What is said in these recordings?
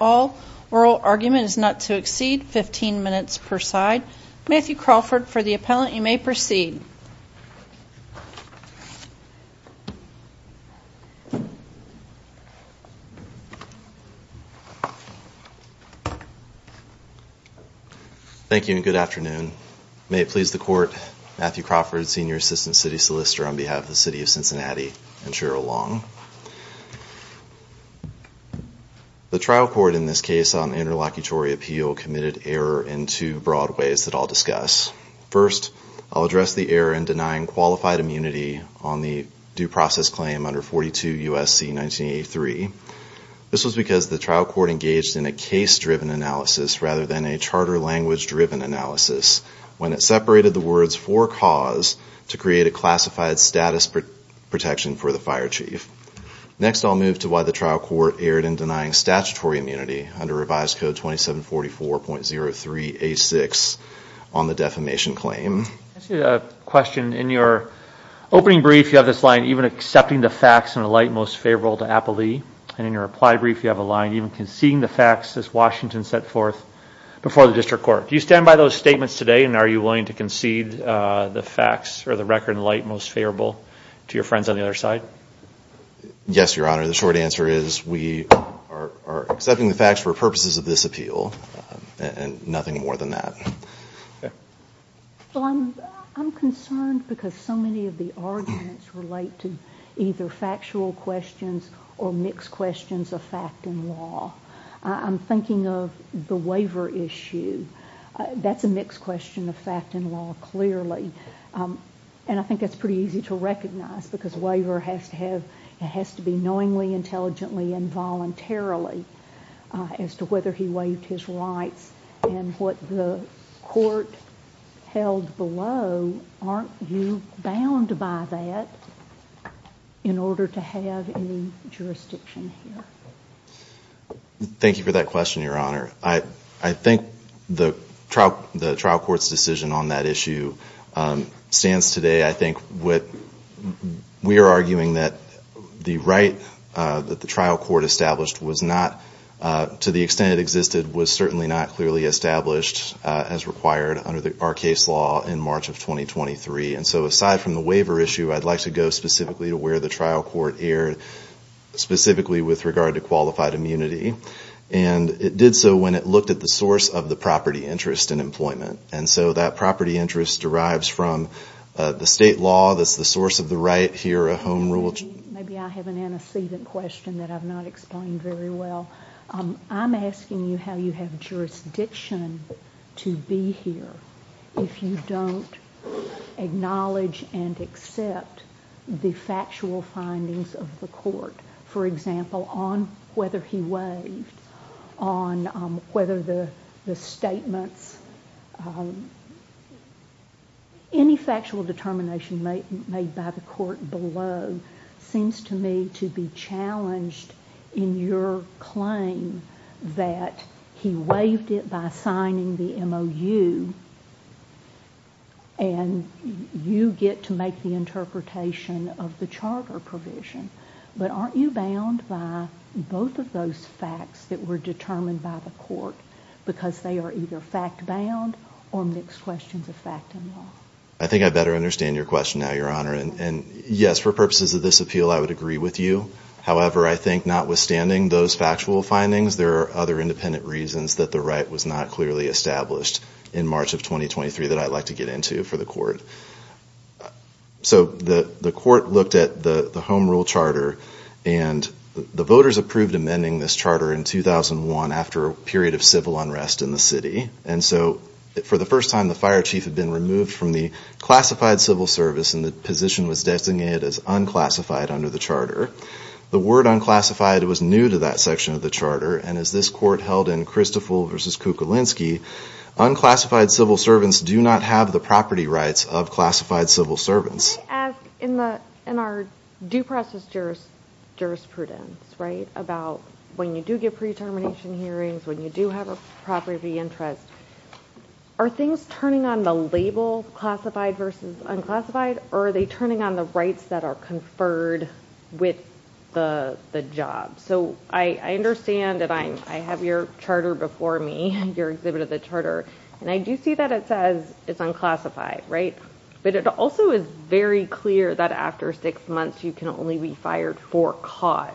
All. Oral argument is not to exceed 15 minutes per side. Matthew Crawford, for the appellant, you may proceed. Thank you and good afternoon. May it please the court, Matthew Crawford, Senior Assistant City Solicitor on behalf of the City of Cincinnati and Cheryl Long. The trial court in this case on interlocutory appeal committed error in two broad ways that I'll discuss. First, I'll address the error in denying qualified immunity on the due process claim under 42 U.S.C. 1983. This was because the trial court engaged in a case-driven analysis rather than a charter language-driven analysis, when it separated the words for cause to create a classified status protection for the fire chief. Next, I'll move to why the trial court erred in denying statutory immunity under revised code 2744.03A6 on the defamation claim. I have a question. In your opening brief, you have this line, even accepting the facts in the light most favorable to appellee. And in your reply brief, you have a line, even conceding the facts as Washington set forth before the district court. Do you stand by those statements today and are you willing to concede the facts or the record in light most favorable to your friends on the other side? Yes, Your Honor. The short answer is we are accepting the facts for purposes of this appeal and nothing more than that. Well, I'm concerned because so many of the arguments relate to either factual questions or mixed questions of fact and law. I'm thinking of the waiver issue. That's a mixed question of fact and law, clearly. And I think that's pretty easy to recognize because a waiver has to be knowingly, intelligently, and voluntarily as to whether he waived his rights. And what the court held below, aren't you bound by that in order to have any jurisdiction here? Thank you for that question, Your Honor. I think the trial court's decision on that issue stands today. I think what we are arguing that the right that the trial court established was not, to the extent it existed, was certainly not clearly established as required under our case law in March of 2023. And so aside from the waiver issue, I'd like to go specifically to where the trial court erred, specifically with regard to qualified immunity. And it did so when it looked at the source of the property interest in employment. And so that property interest derives from the state law that's the source of the right here at Home Rule. Maybe I have an antecedent question that I've not explained very well. I'm asking you how you have jurisdiction to be here if you don't acknowledge and accept the factual findings of the court. For example, on whether he waived, on whether the statements... Any factual determination made by the court below seems to me to be challenged in your claim that he waived it by signing the MOU and you get to make the interpretation of the charter provision. But aren't you bound by both of those facts that were determined by the court because they are either fact-bound or mixed questions of fact and law? I think I better understand your question now, Your Honor. And yes, for purposes of this appeal, I would agree with you. However, I think notwithstanding those factual findings, there are other independent reasons that the right was not clearly established in March of 2023 that I'd like to get into for the court. So the court looked at the Home Rule Charter and the voters approved amending this charter in 2001 after a period of civil unrest in the city. And so for the first time, the fire chief had been removed from the classified civil service and the position was designated as unclassified under the charter. The word unclassified was new to that section of the charter and as this court held in Christoffel v. Kukulinski, unclassified civil servants do not have the property rights of classified civil servants. Can I ask in our due process jurisprudence, right, about when you do get pre-termination hearings, when you do have a property of interest, are things turning on the label classified versus unclassified or are they turning on the rights that are conferred with the job? So I understand that I have your charter before me, your exhibit of the charter, and I do see that it says it's unclassified, right? But it also is very clear that after six months you can only be fired for cause.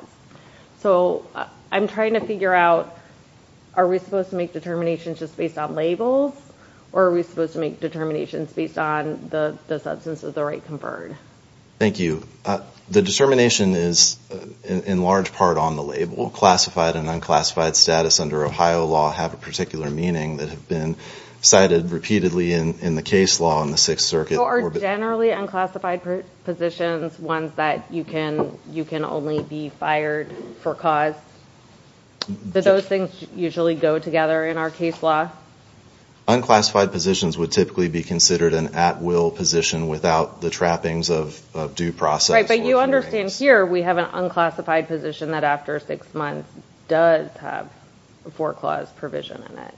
So I'm trying to figure out are we supposed to make determinations just based on labels or are we supposed to make determinations based on the substance of the right conferred? Thank you. The determination is in large part on the label. Classified and unclassified status under Ohio law have a particular meaning that have been cited repeatedly in the case law in the Sixth Circuit. So are generally unclassified positions ones that you can only be fired for cause? Do those things usually go together in our case law? Unclassified positions would typically be considered an at-will position without the trappings of due process. Right, but you understand here we have an unclassified position that after six months does have a four-clause provision in it.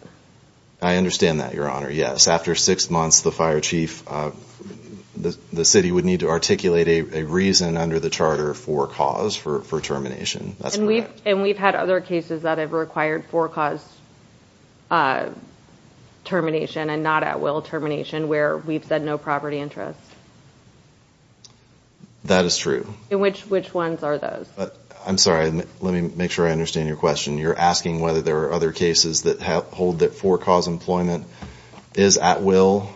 I understand that, Your Honor. Yes, after six months the fire chief, the city would need to articulate a reason under the charter for cause, for termination. And we've had other cases that have required four-clause termination and not at-will termination where we've said no property interest. That is true. Which ones are those? I'm sorry, let me make sure I understand your question. You're asking whether there are other cases that hold that four-clause employment is at-will?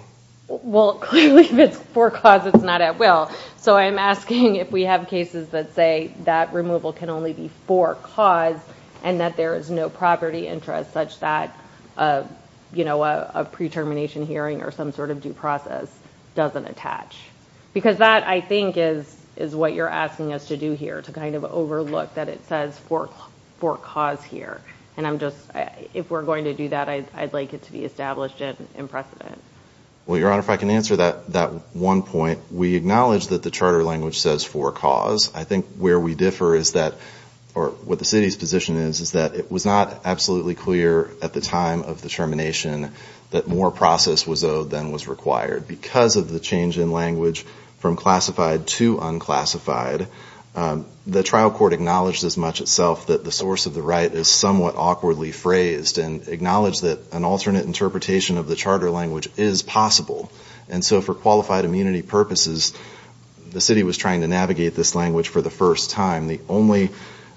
Well, clearly if it's four-clause, it's not at-will. So I'm asking if we have cases that say that removal can only be for cause and that there is no property interest such that a pre-termination hearing or some sort of due process doesn't attach. Because that, I think, is what you're asking us to do here, to kind of overlook that it says for cause here. And I'm just, if we're going to do that, I'd like it to be established and imprecedent. Well, Your Honor, if I can answer that one point, we acknowledge that the charter language says for cause. I think where we differ is that, or what the city's position is, is that it was not absolutely clear at the time of the termination that more process was owed than was required. Because of the change in language from classified to unclassified, the trial court acknowledged as much itself that the source of the right is someone who is not at-will. And that was somewhat awkwardly phrased and acknowledged that an alternate interpretation of the charter language is possible. And so for qualified immunity purposes, the city was trying to navigate this language for the first time. The only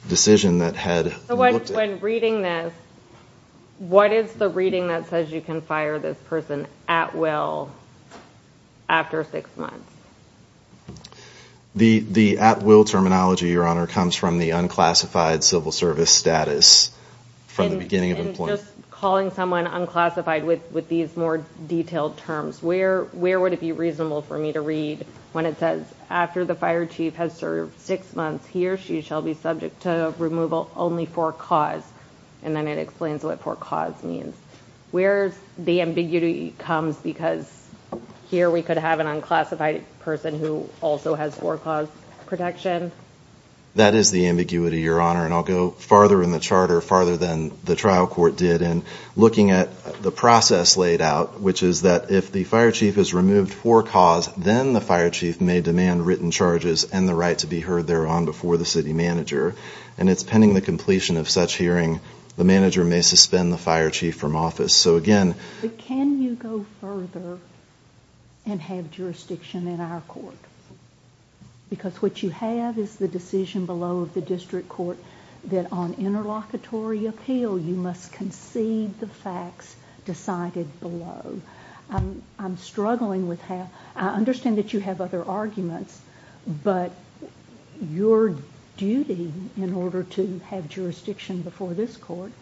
decision that had been looked at... So when reading this, what is the reading that says you can fire this person at-will after six months? The at-will terminology, Your Honor, comes from the unclassified civil service status from the beginning of employment. And just calling someone unclassified with these more detailed terms. Where would it be reasonable for me to read when it says after the fire chief has served six months, he or she shall be subject to removal only for cause? And then it explains what for cause means. Where the ambiguity comes because here we could have an unclassified person who also has for cause protection? That is the ambiguity, Your Honor, and I'll go farther in the charter, farther than the trial court did in looking at the process laid out. Which is that if the fire chief is removed for cause, then the fire chief may demand written charges and the right to be heard thereon before the city manager. And it's pending the completion of such hearing, the manager may suspend the fire chief from office. But can you go further and have jurisdiction in our court? Because what you have is the decision below of the district court that on interlocutory appeal you must concede the facts decided below. I'm struggling with that. I understand that you have other arguments, but your duty in order to have jurisdiction before this court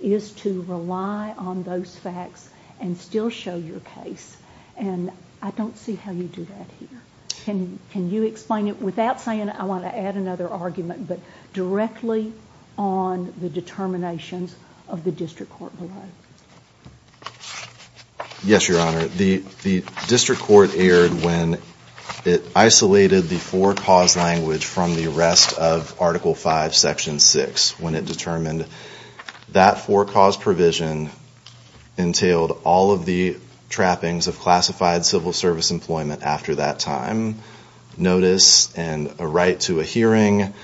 is to rely on those facts and still show your case. And I don't see how you do that here. Can you explain it without saying I want to add another argument, but directly on the determinations of the district court below? Yes, Your Honor. The district court erred when it isolated the for cause language from the rest of Article 5, Section 6. When it determined that for cause provision entailed all of the trappings of classified civil service employment after that time. Notice and a right to a hearing.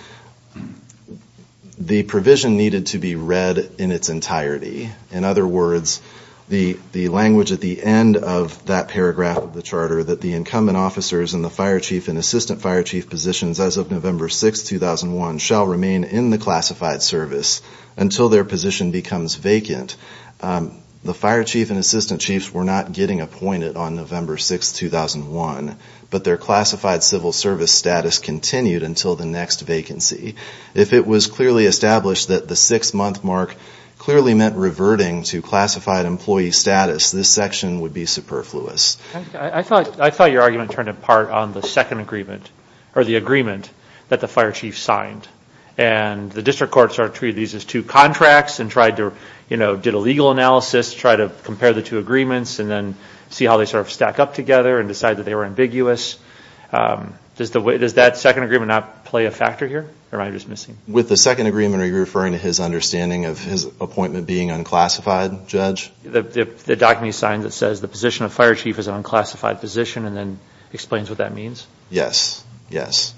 The provision needed to be read in its entirety. In other words, the language at the end of that paragraph of the charter that the incumbent officers in the fire chief and assistant fire chief positions as of November 6, 2001 shall remain in the classified service until their position becomes vacant. The fire chief and assistant chiefs were not getting appointed on November 6, 2001. But their classified civil service status continued until the next vacancy. If it was clearly established that the six month mark clearly meant reverting to classified employee status, this section would be superfluous. I thought your argument turned apart on the second agreement. Or the agreement that the fire chief signed. And the district court started to treat these as two contracts and did a legal analysis to try to compare the two agreements and see how they stack up together and decide that they were ambiguous. Does that second agreement not play a factor here? With the second agreement, are you referring to his understanding of his appointment being unclassified, Judge? The document he signed that says the position of fire chief is an unclassified position and then explains what that means? Yes, yes.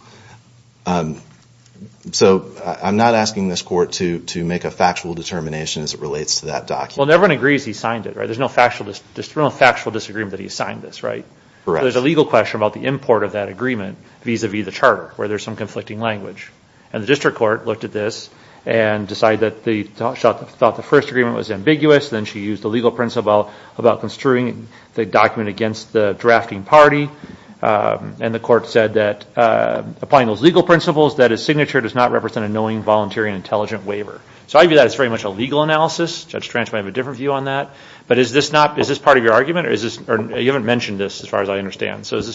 So I'm not asking this court to make a factual determination as it relates to that document. Well, everyone agrees he signed it, right? There's no factual disagreement that he signed this, right? There's a legal question about the import of that agreement vis-a-vis the charter where there's some conflicting language. And the district court looked at this and decided that they thought the first agreement was ambiguous. Then she used a legal principle about construing the document against the drafting party. And the court said that applying those legal principles, that his signature does not represent a knowing, volunteering, intelligent waiver. So I view that as very much a legal analysis. Judge Trench might have a different view on that. But is this part of your argument? You haven't mentioned this as far as I understand. So is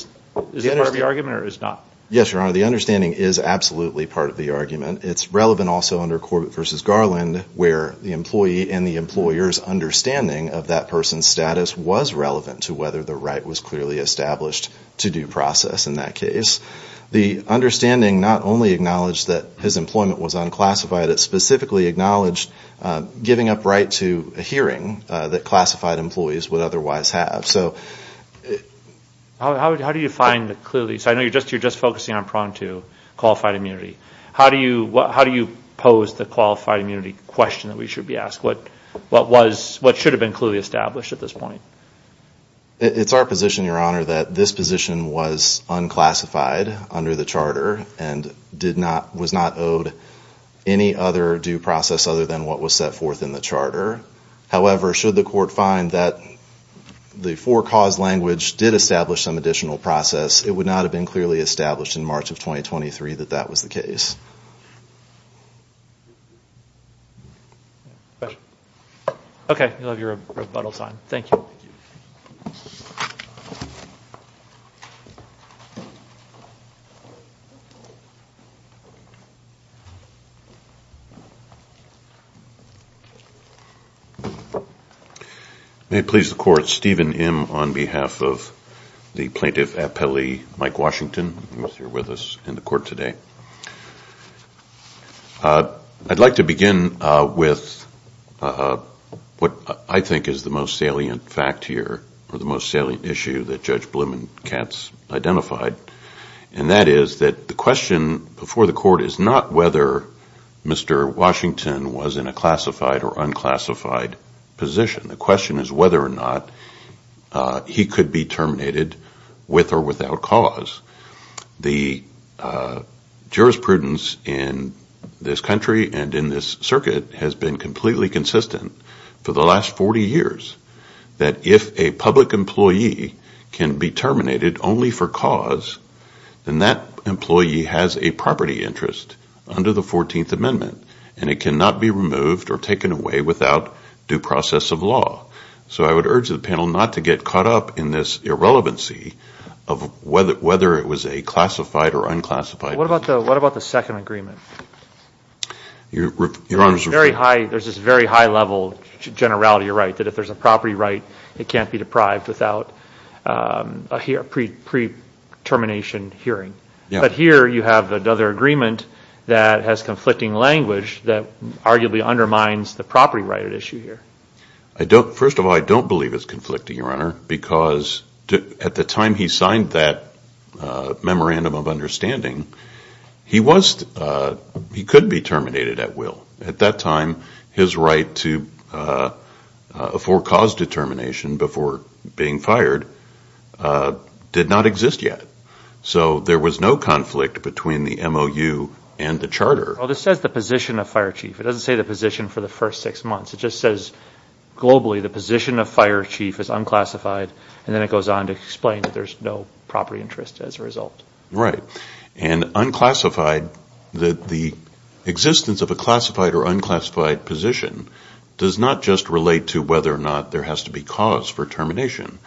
this part of your argument or is it not? Yes, Your Honor. The understanding is absolutely part of the argument. It's relevant also under Corbett v. Garland where the employee and the employer's understanding of that person's status was relevant to whether the right was clearly established to due process in that case. The understanding not only acknowledged that his employment was unclassified. It specifically acknowledged giving up right to a hearing that classified employees would otherwise have. How do you find clearly? I know you're just focusing on Pronto qualified immunity. How do you pose the qualified immunity question that we should be asking? What should have been clearly established at this point? It's our position, Your Honor, that this position was unclassified under the charter and was not owed any other due process other than what was set forth in the charter. However, should the court find that the four cause language did establish some additional process, it would not have been clearly established in March of 2023 that that was the case. Okay. You'll have your rebuttal time. Thank you. May it please the Court, Stephen M. on behalf of the Plaintiff Appellee, Mike Washington, who is here with us in the Court today. I'd like to begin with what I think is the most salient fact here or the most salient issue that Judge Blumenkatz identified. And that is that the question before the Court is not whether Mr. Washington was in a classified or unclassified position. The question is whether or not he could be terminated with or without cause. The jurisprudence in this country and in this circuit has been completely consistent for the last 40 years that if a public employee can be terminated only for cause, then that employee has a property interest under the 14th Amendment. And it cannot be removed or taken away without due process of law. So I would urge the panel not to get caught up in this irrelevancy of whether it was a classified or unclassified position. What about the second agreement? There's this very high level generality of right that if there's a property right, it can't be deprived without a pre-termination hearing. But here you have another agreement that has conflicting language that arguably undermines the property right at issue here. First of all, I don't believe it's conflicting, Your Honor, because at the time he signed that memorandum of understanding, he could be terminated at will. At that time, his right for cause determination before being fired did not exist yet. So there was no conflict between the MOU and the Charter. Well, this says the position of fire chief. It doesn't say the position for the first six months. It just says globally the position of fire chief is unclassified, and then it goes on to explain that there's no property interest as a result. Right. And unclassified, the existence of a classified or unclassified position does not just relate to whether or not there has to be cause for termination.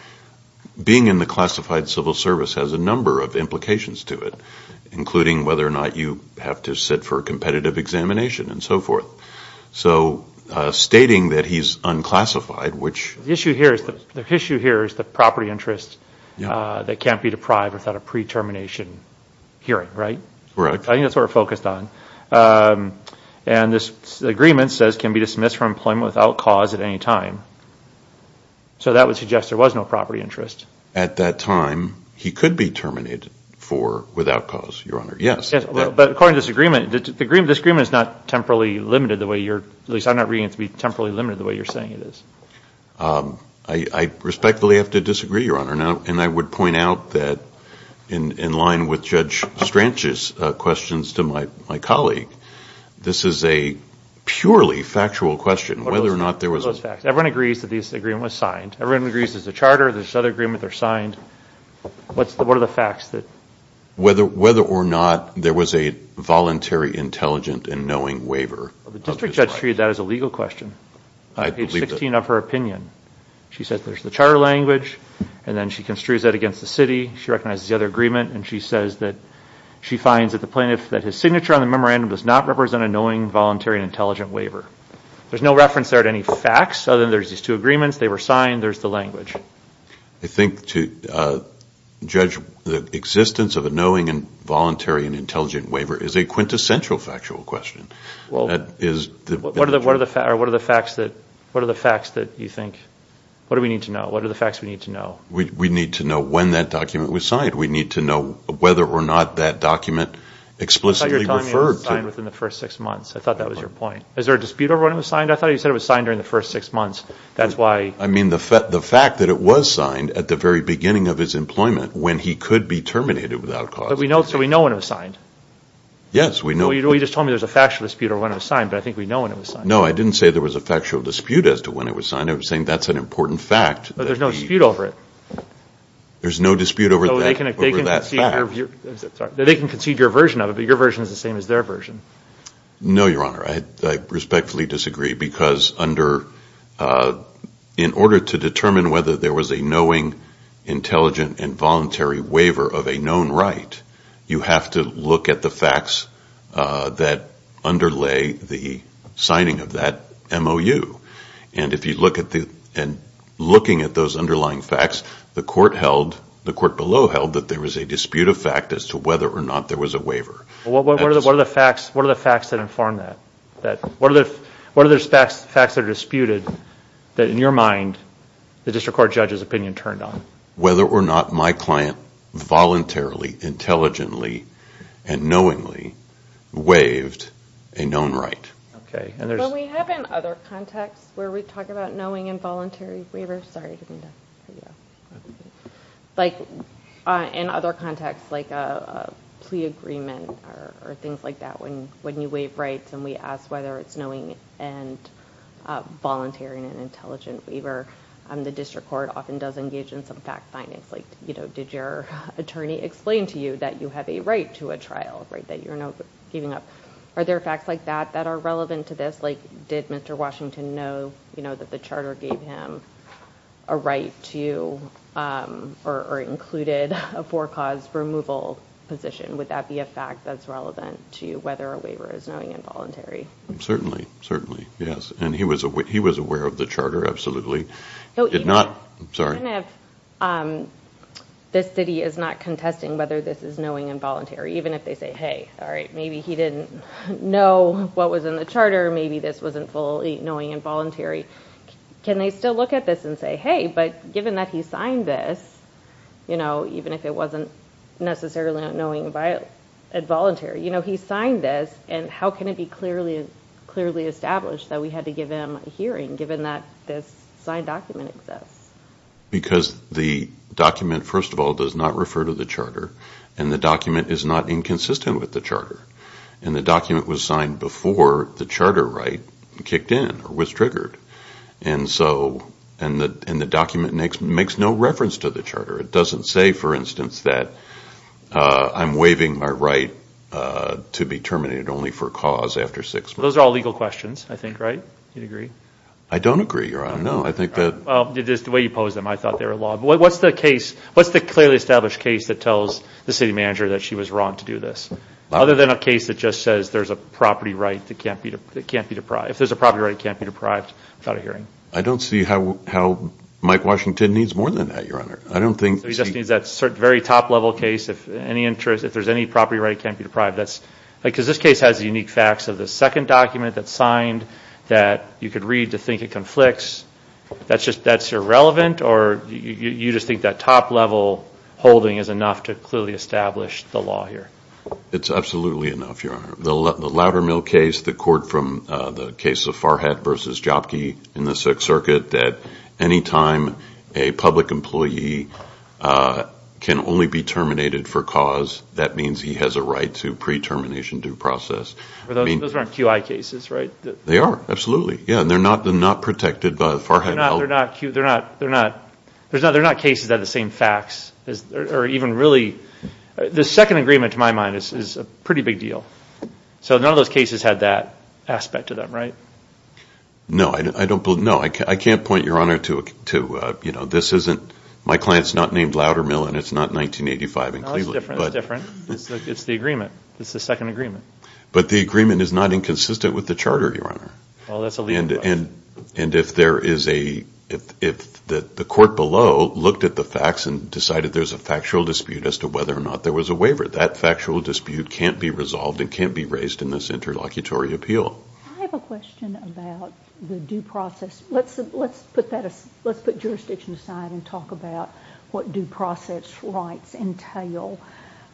Being in the classified civil service has a number of implications to it, including whether or not you have to sit for a competitive examination and so forth. So stating that he's unclassified, which... The issue here is the property interest that can't be deprived without a pre-termination hearing, right? Right. I think that's what we're focused on. And this agreement says can be dismissed from employment without cause at any time. So that would suggest there was no property interest. At that time, he could be terminated for without cause, Your Honor. Yes. I respectfully have to disagree, Your Honor. And I would point out that in line with Judge Stranch's questions to my colleague, this is a purely factual question. What are those facts? Everyone agrees that this agreement was signed. Everyone agrees there's a charter, there's another agreement, they're signed. What are the facts? Whether or not there was a voluntary, intelligent, and knowing waiver. And she construes that against the city. She recognizes the other agreement. And she says that she finds that the plaintiff, that his signature on the memorandum does not represent a knowing, voluntary, and intelligent waiver. There's no reference there to any facts, other than there's these two agreements, they were signed, there's the language. I think to judge the existence of a knowing and voluntary and intelligent waiver is a quintessential factual question. What are the facts that you think, what do we need to know? What are the facts we need to know? We need to know when that document was signed. We need to know whether or not that document explicitly referred to. I thought you were telling me it was signed within the first six months. I thought that was your point. Is there a dispute over when it was signed? I thought you said it was signed during the first six months. That's why. I mean the fact that it was signed at the very beginning of his employment, when he could be terminated without cause. So we know when it was signed? Yes, we know. You just told me there was a factual dispute over when it was signed, but I think we know when it was signed. No, I didn't say there was a factual dispute as to when it was signed. I was saying that's an important fact. But there's no dispute over it. There's no dispute over that fact. They can concede your version of it, but your version is the same as their version. No, Your Honor. I respectfully disagree because in order to determine whether there was a knowing, intelligent, and voluntary waiver of a known right, you have to look at the facts that underlay the signing of that MOU. And if you look at those underlying facts, the court below held that there was a dispute of fact as to whether or not there was a waiver. What are the facts that inform that? What are the facts that are disputed that in your mind the district court judge's opinion turned on? Whether or not my client voluntarily, intelligently, and knowingly waived a known right. But we have in other contexts where we talk about knowing and voluntary waivers. In other contexts, like a plea agreement or things like that, when you waive rights and we ask whether it's knowing and voluntary and an intelligent waiver, the district court often does engage in some fact findings like did your attorney explain to you that you have a right to a trial, that you're not giving up. Are there facts like that that are relevant to this? Like did Mr. Washington know that the charter gave him a right to or included a for-cause removal position? Would that be a fact that's relevant to whether a waiver is knowing and voluntary? Certainly. Certainly. Yes. And he was aware of the charter, absolutely. Even if this city is not contesting whether this is knowing and voluntary, even if they say hey, maybe he didn't know what was in the charter, maybe this wasn't fully knowing and voluntary, can they still look at this and say hey, but given that he signed this, even if it wasn't necessarily knowing and voluntary, he signed this and how can it be clearly established that we had to give him a hearing given that this signed document exists? Because the document, first of all, does not refer to the charter and the document is not inconsistent with the charter and the document was signed before the charter right kicked in or was triggered and the document makes no reference to the charter. It doesn't say, for instance, that I'm waiving my right to be terminated only for cause after six months. Those are all legal questions, I think, right? Do you agree? I don't agree, Your Honor. No, I think that... It is the way you pose them. I thought they were law. What's the case, what's the clearly established case that tells the city manager that she was wrong to do this? Other than a case that just says there's a property right that can't be deprived. If there's a property right that can't be deprived without a hearing. I don't see how Mike Washington needs more than that, Your Honor. I don't think... He just needs that very top level case. If there's any property right that can't be deprived, that's... Because this case has unique facts of the second document that's signed that you could read to think it conflicts. That's irrelevant or you just think that top level holding is enough to clearly establish the law here? It's absolutely enough, Your Honor. The Loudermill case, the court from the case of Farhat versus Jopki in the Sixth Circuit, that any time a public employee can only be terminated for cause, that means he has a right to pre-termination due process. Those aren't QI cases, right? They are, absolutely. They're not protected by Farhat. They're not cases that have the same facts or even really... The second agreement, to my mind, is a pretty big deal. So none of those cases had that aspect to them, right? No, I can't point, Your Honor, to... My client's not named Loudermill and it's not 1985 in Cleveland. It's different. It's different. It's the agreement. It's the second agreement. But the agreement is not inconsistent with the charter, Your Honor. Well, that's a legal question. And if there is a... If the court below looked at the facts and decided there's a factual dispute as to whether or not there was a waiver, that factual dispute can't be resolved and can't be raised in this interlocutory appeal. I have a question about the due process. Let's put jurisdiction aside and talk about what due process rights entail.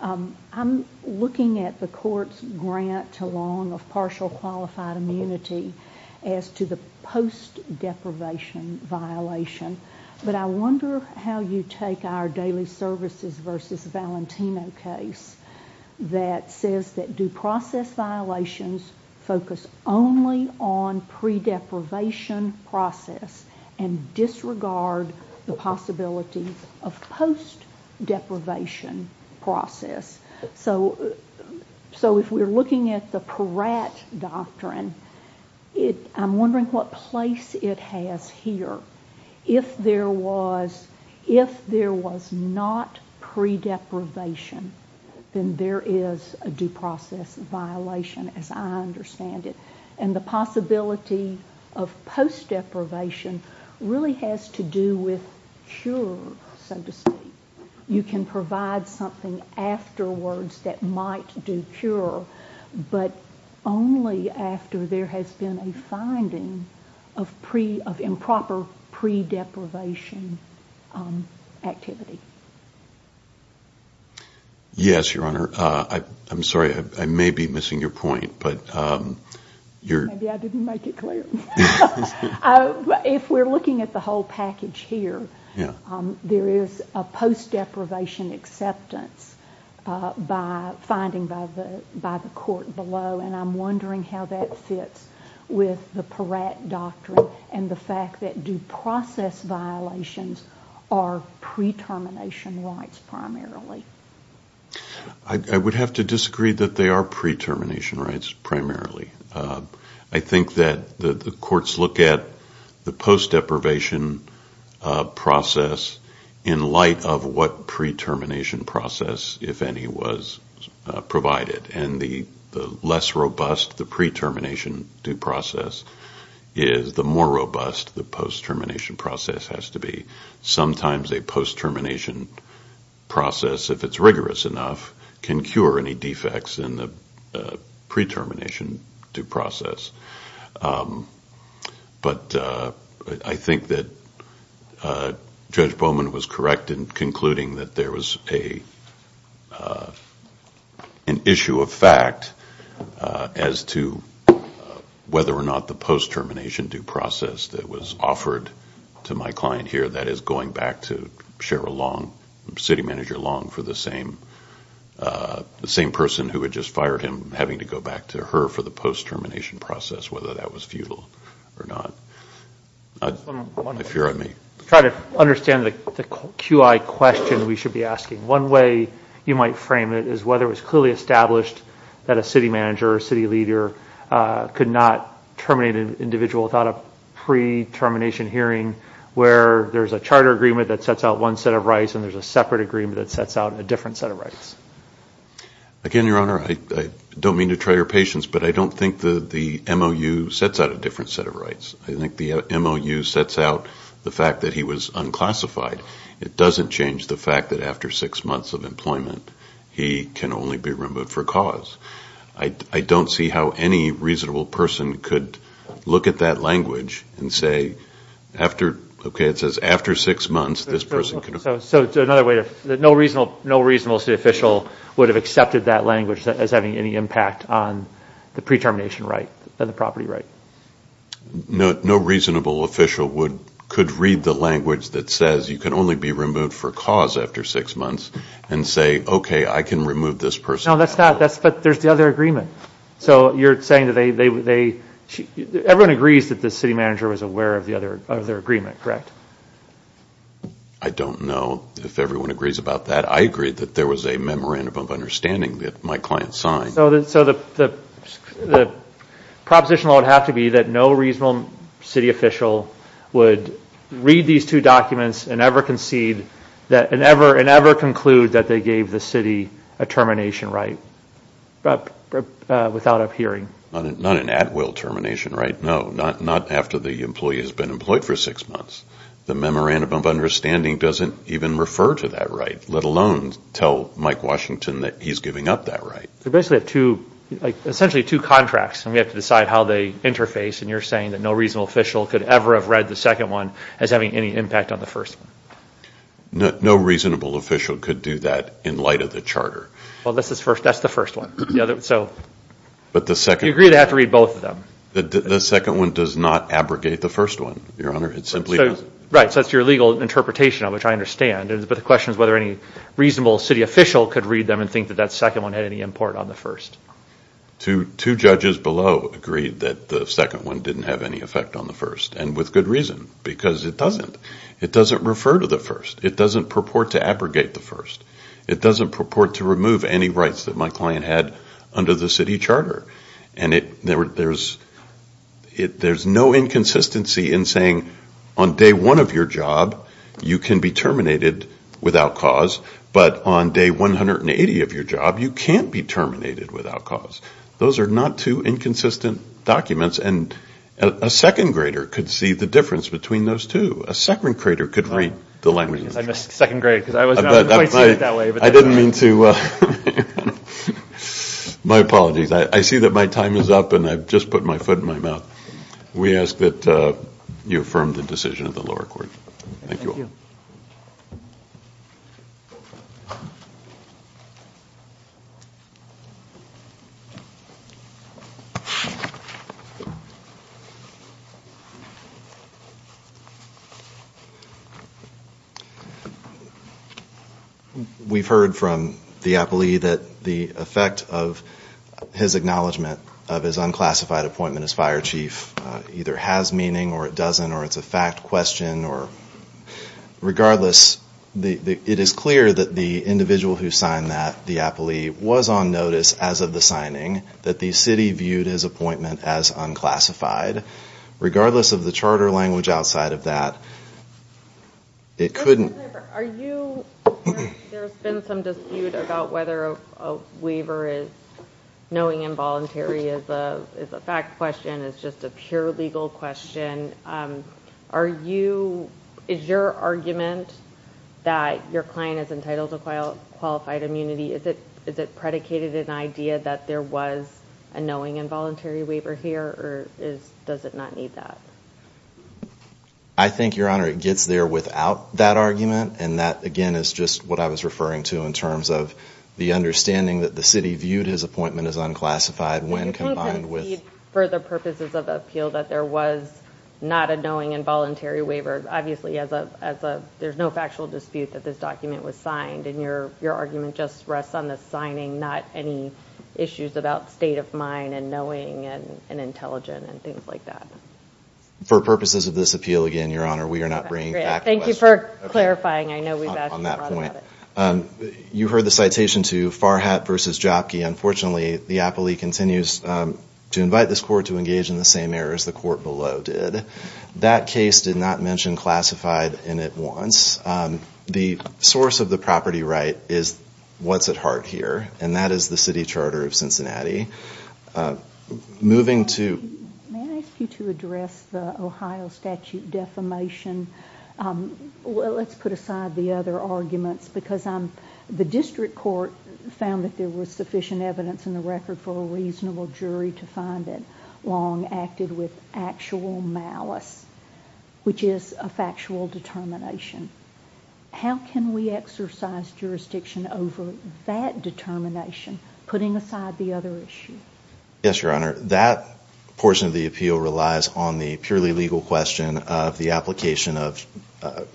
I'm looking at the court's grant to Long of partial qualified immunity as to the post-deprivation violation. But I wonder how you take our Daily Services v. Valentino case that says that due process violations focus only on pre-deprivation process and disregard the possibilities of post-deprivation process. So if we're looking at the Peratt doctrine, I'm wondering what place it has here. If there was not pre-deprivation, then there is a due process violation, as I understand it. And the possibility of post-deprivation really has to do with cure, so to speak. You can provide something afterwards that might do cure, but only after there has been a finding of improper pre-deprivation activity. Yes, Your Honor. I'm sorry, I may be missing your point. Maybe I didn't make it clear. If we're looking at the whole package here, there is a post-deprivation acceptance finding by the court below, and I'm wondering how that fits with the Peratt doctrine and the fact that due process violations are pre-termination rights primarily. I would have to disagree that they are pre-termination rights primarily. I think that the courts look at the post-deprivation process in light of what pre-termination process, if any, was provided. And the less robust the pre-termination due process is, the more robust the post-termination process has to be. Sometimes a post-termination process, if it's rigorous enough, can cure any defects in the pre-termination due process. But I think that Judge Bowman was correct in concluding that there was an issue of fact as to whether or not the post-termination due process that was offered to my client here, that is going back to Cheryl Long, City Manager Long, for the same person who had just fired him having to go back to her for the post-termination process, whether that was futile or not. If you're on me. I'm trying to understand the QI question we should be asking. One way you might frame it is whether it was clearly established that a city manager or a city leader could not terminate an individual without a pre-termination hearing where there's a charter agreement that sets out one set of rights and there's a separate agreement that sets out a different set of rights. Again, Your Honor, I don't mean to try your patience, but I don't think the MOU sets out a different set of rights. I think the MOU sets out the fact that he was unclassified. It doesn't change the fact that after six months of employment, he can only be removed for cause. I don't see how any reasonable person could look at that language and say, okay, it says after six months, this person could be removed. So another way, no reasonable city official would have accepted that language as having any impact on the pre-termination right and the property right. No reasonable official could read the language that says you can only be removed for cause after six months and say, okay, I can remove this person. No, that's not, but there's the other agreement. So you're saying that they, everyone agrees that the city manager was aware of their agreement, correct? I don't know if everyone agrees about that. I agree that there was a memorandum of understanding that my client signed. So the proposition would have to be that no reasonable city official would read these two documents and ever conclude that they gave the city a termination right without a hearing. Not an at-will termination right, no. Not after the employee has been employed for six months. The memorandum of understanding doesn't even refer to that right, let alone tell Mike Washington that he's giving up that right. So basically two, essentially two contracts, and we have to decide how they interface, and you're saying that no reasonable official could ever have read the second one as having any impact on the first one. No reasonable official could do that in light of the charter. Well, that's the first one. So you agree they have to read both of them. The second one does not abrogate the first one, Your Honor. It simply doesn't. Right, so that's your legal interpretation of it, which I understand, but the question is whether any reasonable city official could read them and think that that second one had any import on the first. Two judges below agreed that the second one didn't have any effect on the first, and with good reason, because it doesn't. It doesn't refer to the first. It doesn't purport to abrogate the first. It doesn't purport to remove any rights that my client had under the city charter. And there's no inconsistency in saying on day one of your job, you can be terminated without cause, but on day 180 of your job, you can't be terminated without cause. Those are not two inconsistent documents, and a second grader could see the difference between those two. A second grader could read the language. I missed second grade because I was not quite seeing it that way. I didn't mean to. My apologies. I see that my time is up, and I've just put my foot in my mouth. We ask that you affirm the decision of the lower court. Thank you all. We've heard from the appellee that the effect of his acknowledgement of his unclassified appointment as fire chief either has meaning or it doesn't, or it's a fact question. Regardless, it is clear that the individual who signed that, the appellee, was on notice as of the signing that the city viewed his appointment as unclassified. Regardless of the charter language outside of that, it couldn't be. There's been some dispute about whether a waiver is knowing involuntary. It's a fact question. It's just a pure legal question. Is your argument that your client is entitled to qualified immunity, is it predicated in the idea that there was a knowing involuntary waiver here, or does it not need that? I think, Your Honor, it gets there without that argument, and that, again, is just what I was referring to in terms of the understanding that the city viewed his appointment as unclassified when combined with... You can't concede for the purposes of appeal that there was not a knowing involuntary waiver. Obviously, there's no factual dispute that this document was signed, and your argument just rests on the signing, not any issues about state of mind and knowing and intelligent and things like that. For purposes of this appeal, again, Your Honor, we are not bringing back a question. Thank you for clarifying. I know we've asked a lot about it. You heard the citation to Farhat v. Jopke. Unfortunately, the appellee continues to invite this court to engage in the same error as the court below did. That case did not mention classified in it once. The source of the property right is what's at heart here, and that is the city charter of Cincinnati. May I ask you to address the Ohio statute defamation? Let's put aside the other arguments. The district court found that there was sufficient evidence in the record for a reasonable jury to find that Long acted with actual malice, which is a factual determination. How can we exercise jurisdiction over that determination, putting aside the other issue? Yes, Your Honor, that portion of the appeal relies on the purely legal question of the application of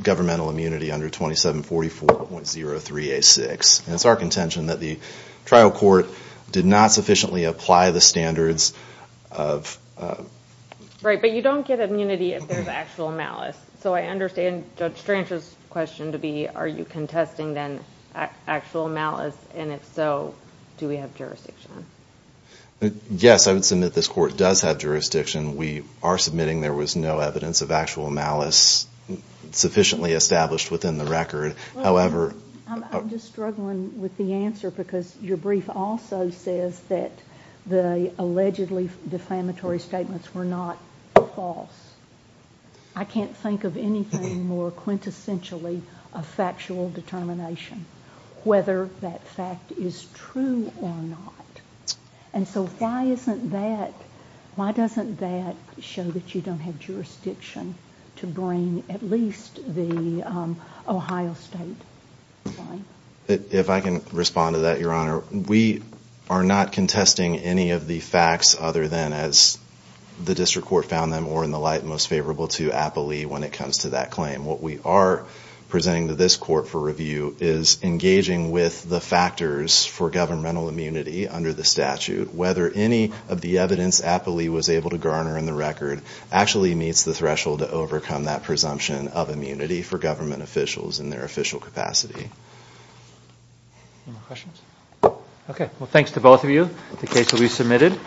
governmental immunity under 2744.03a6. It's our contention that the trial court did not sufficiently apply the standards of... Right, but you don't get immunity if there's actual malice. So I understand Judge Strange's question to be, are you contesting then actual malice, and if so, do we have jurisdiction? Yes, I would submit this court does have jurisdiction. We are submitting there was no evidence of actual malice sufficiently established within the record. However... I'm just struggling with the answer because your brief also says that the allegedly defamatory statements were not false. I can't think of anything more quintessentially a factual determination, whether that fact is true or not. And so why doesn't that show that you don't have jurisdiction to bring at least the Ohio State claim? If I can respond to that, Your Honor, we are not contesting any of the facts other than as the district court found them or in the light most favorable to Appley when it comes to that claim. What we are presenting to this court for review is engaging with the factors for governmental immunity under the statute. Whether any of the evidence Appley was able to garner in the record actually meets the threshold to overcome that presumption of immunity for government officials in their official capacity. Any more questions? Okay. Well, thanks to both of you. The case will be submitted.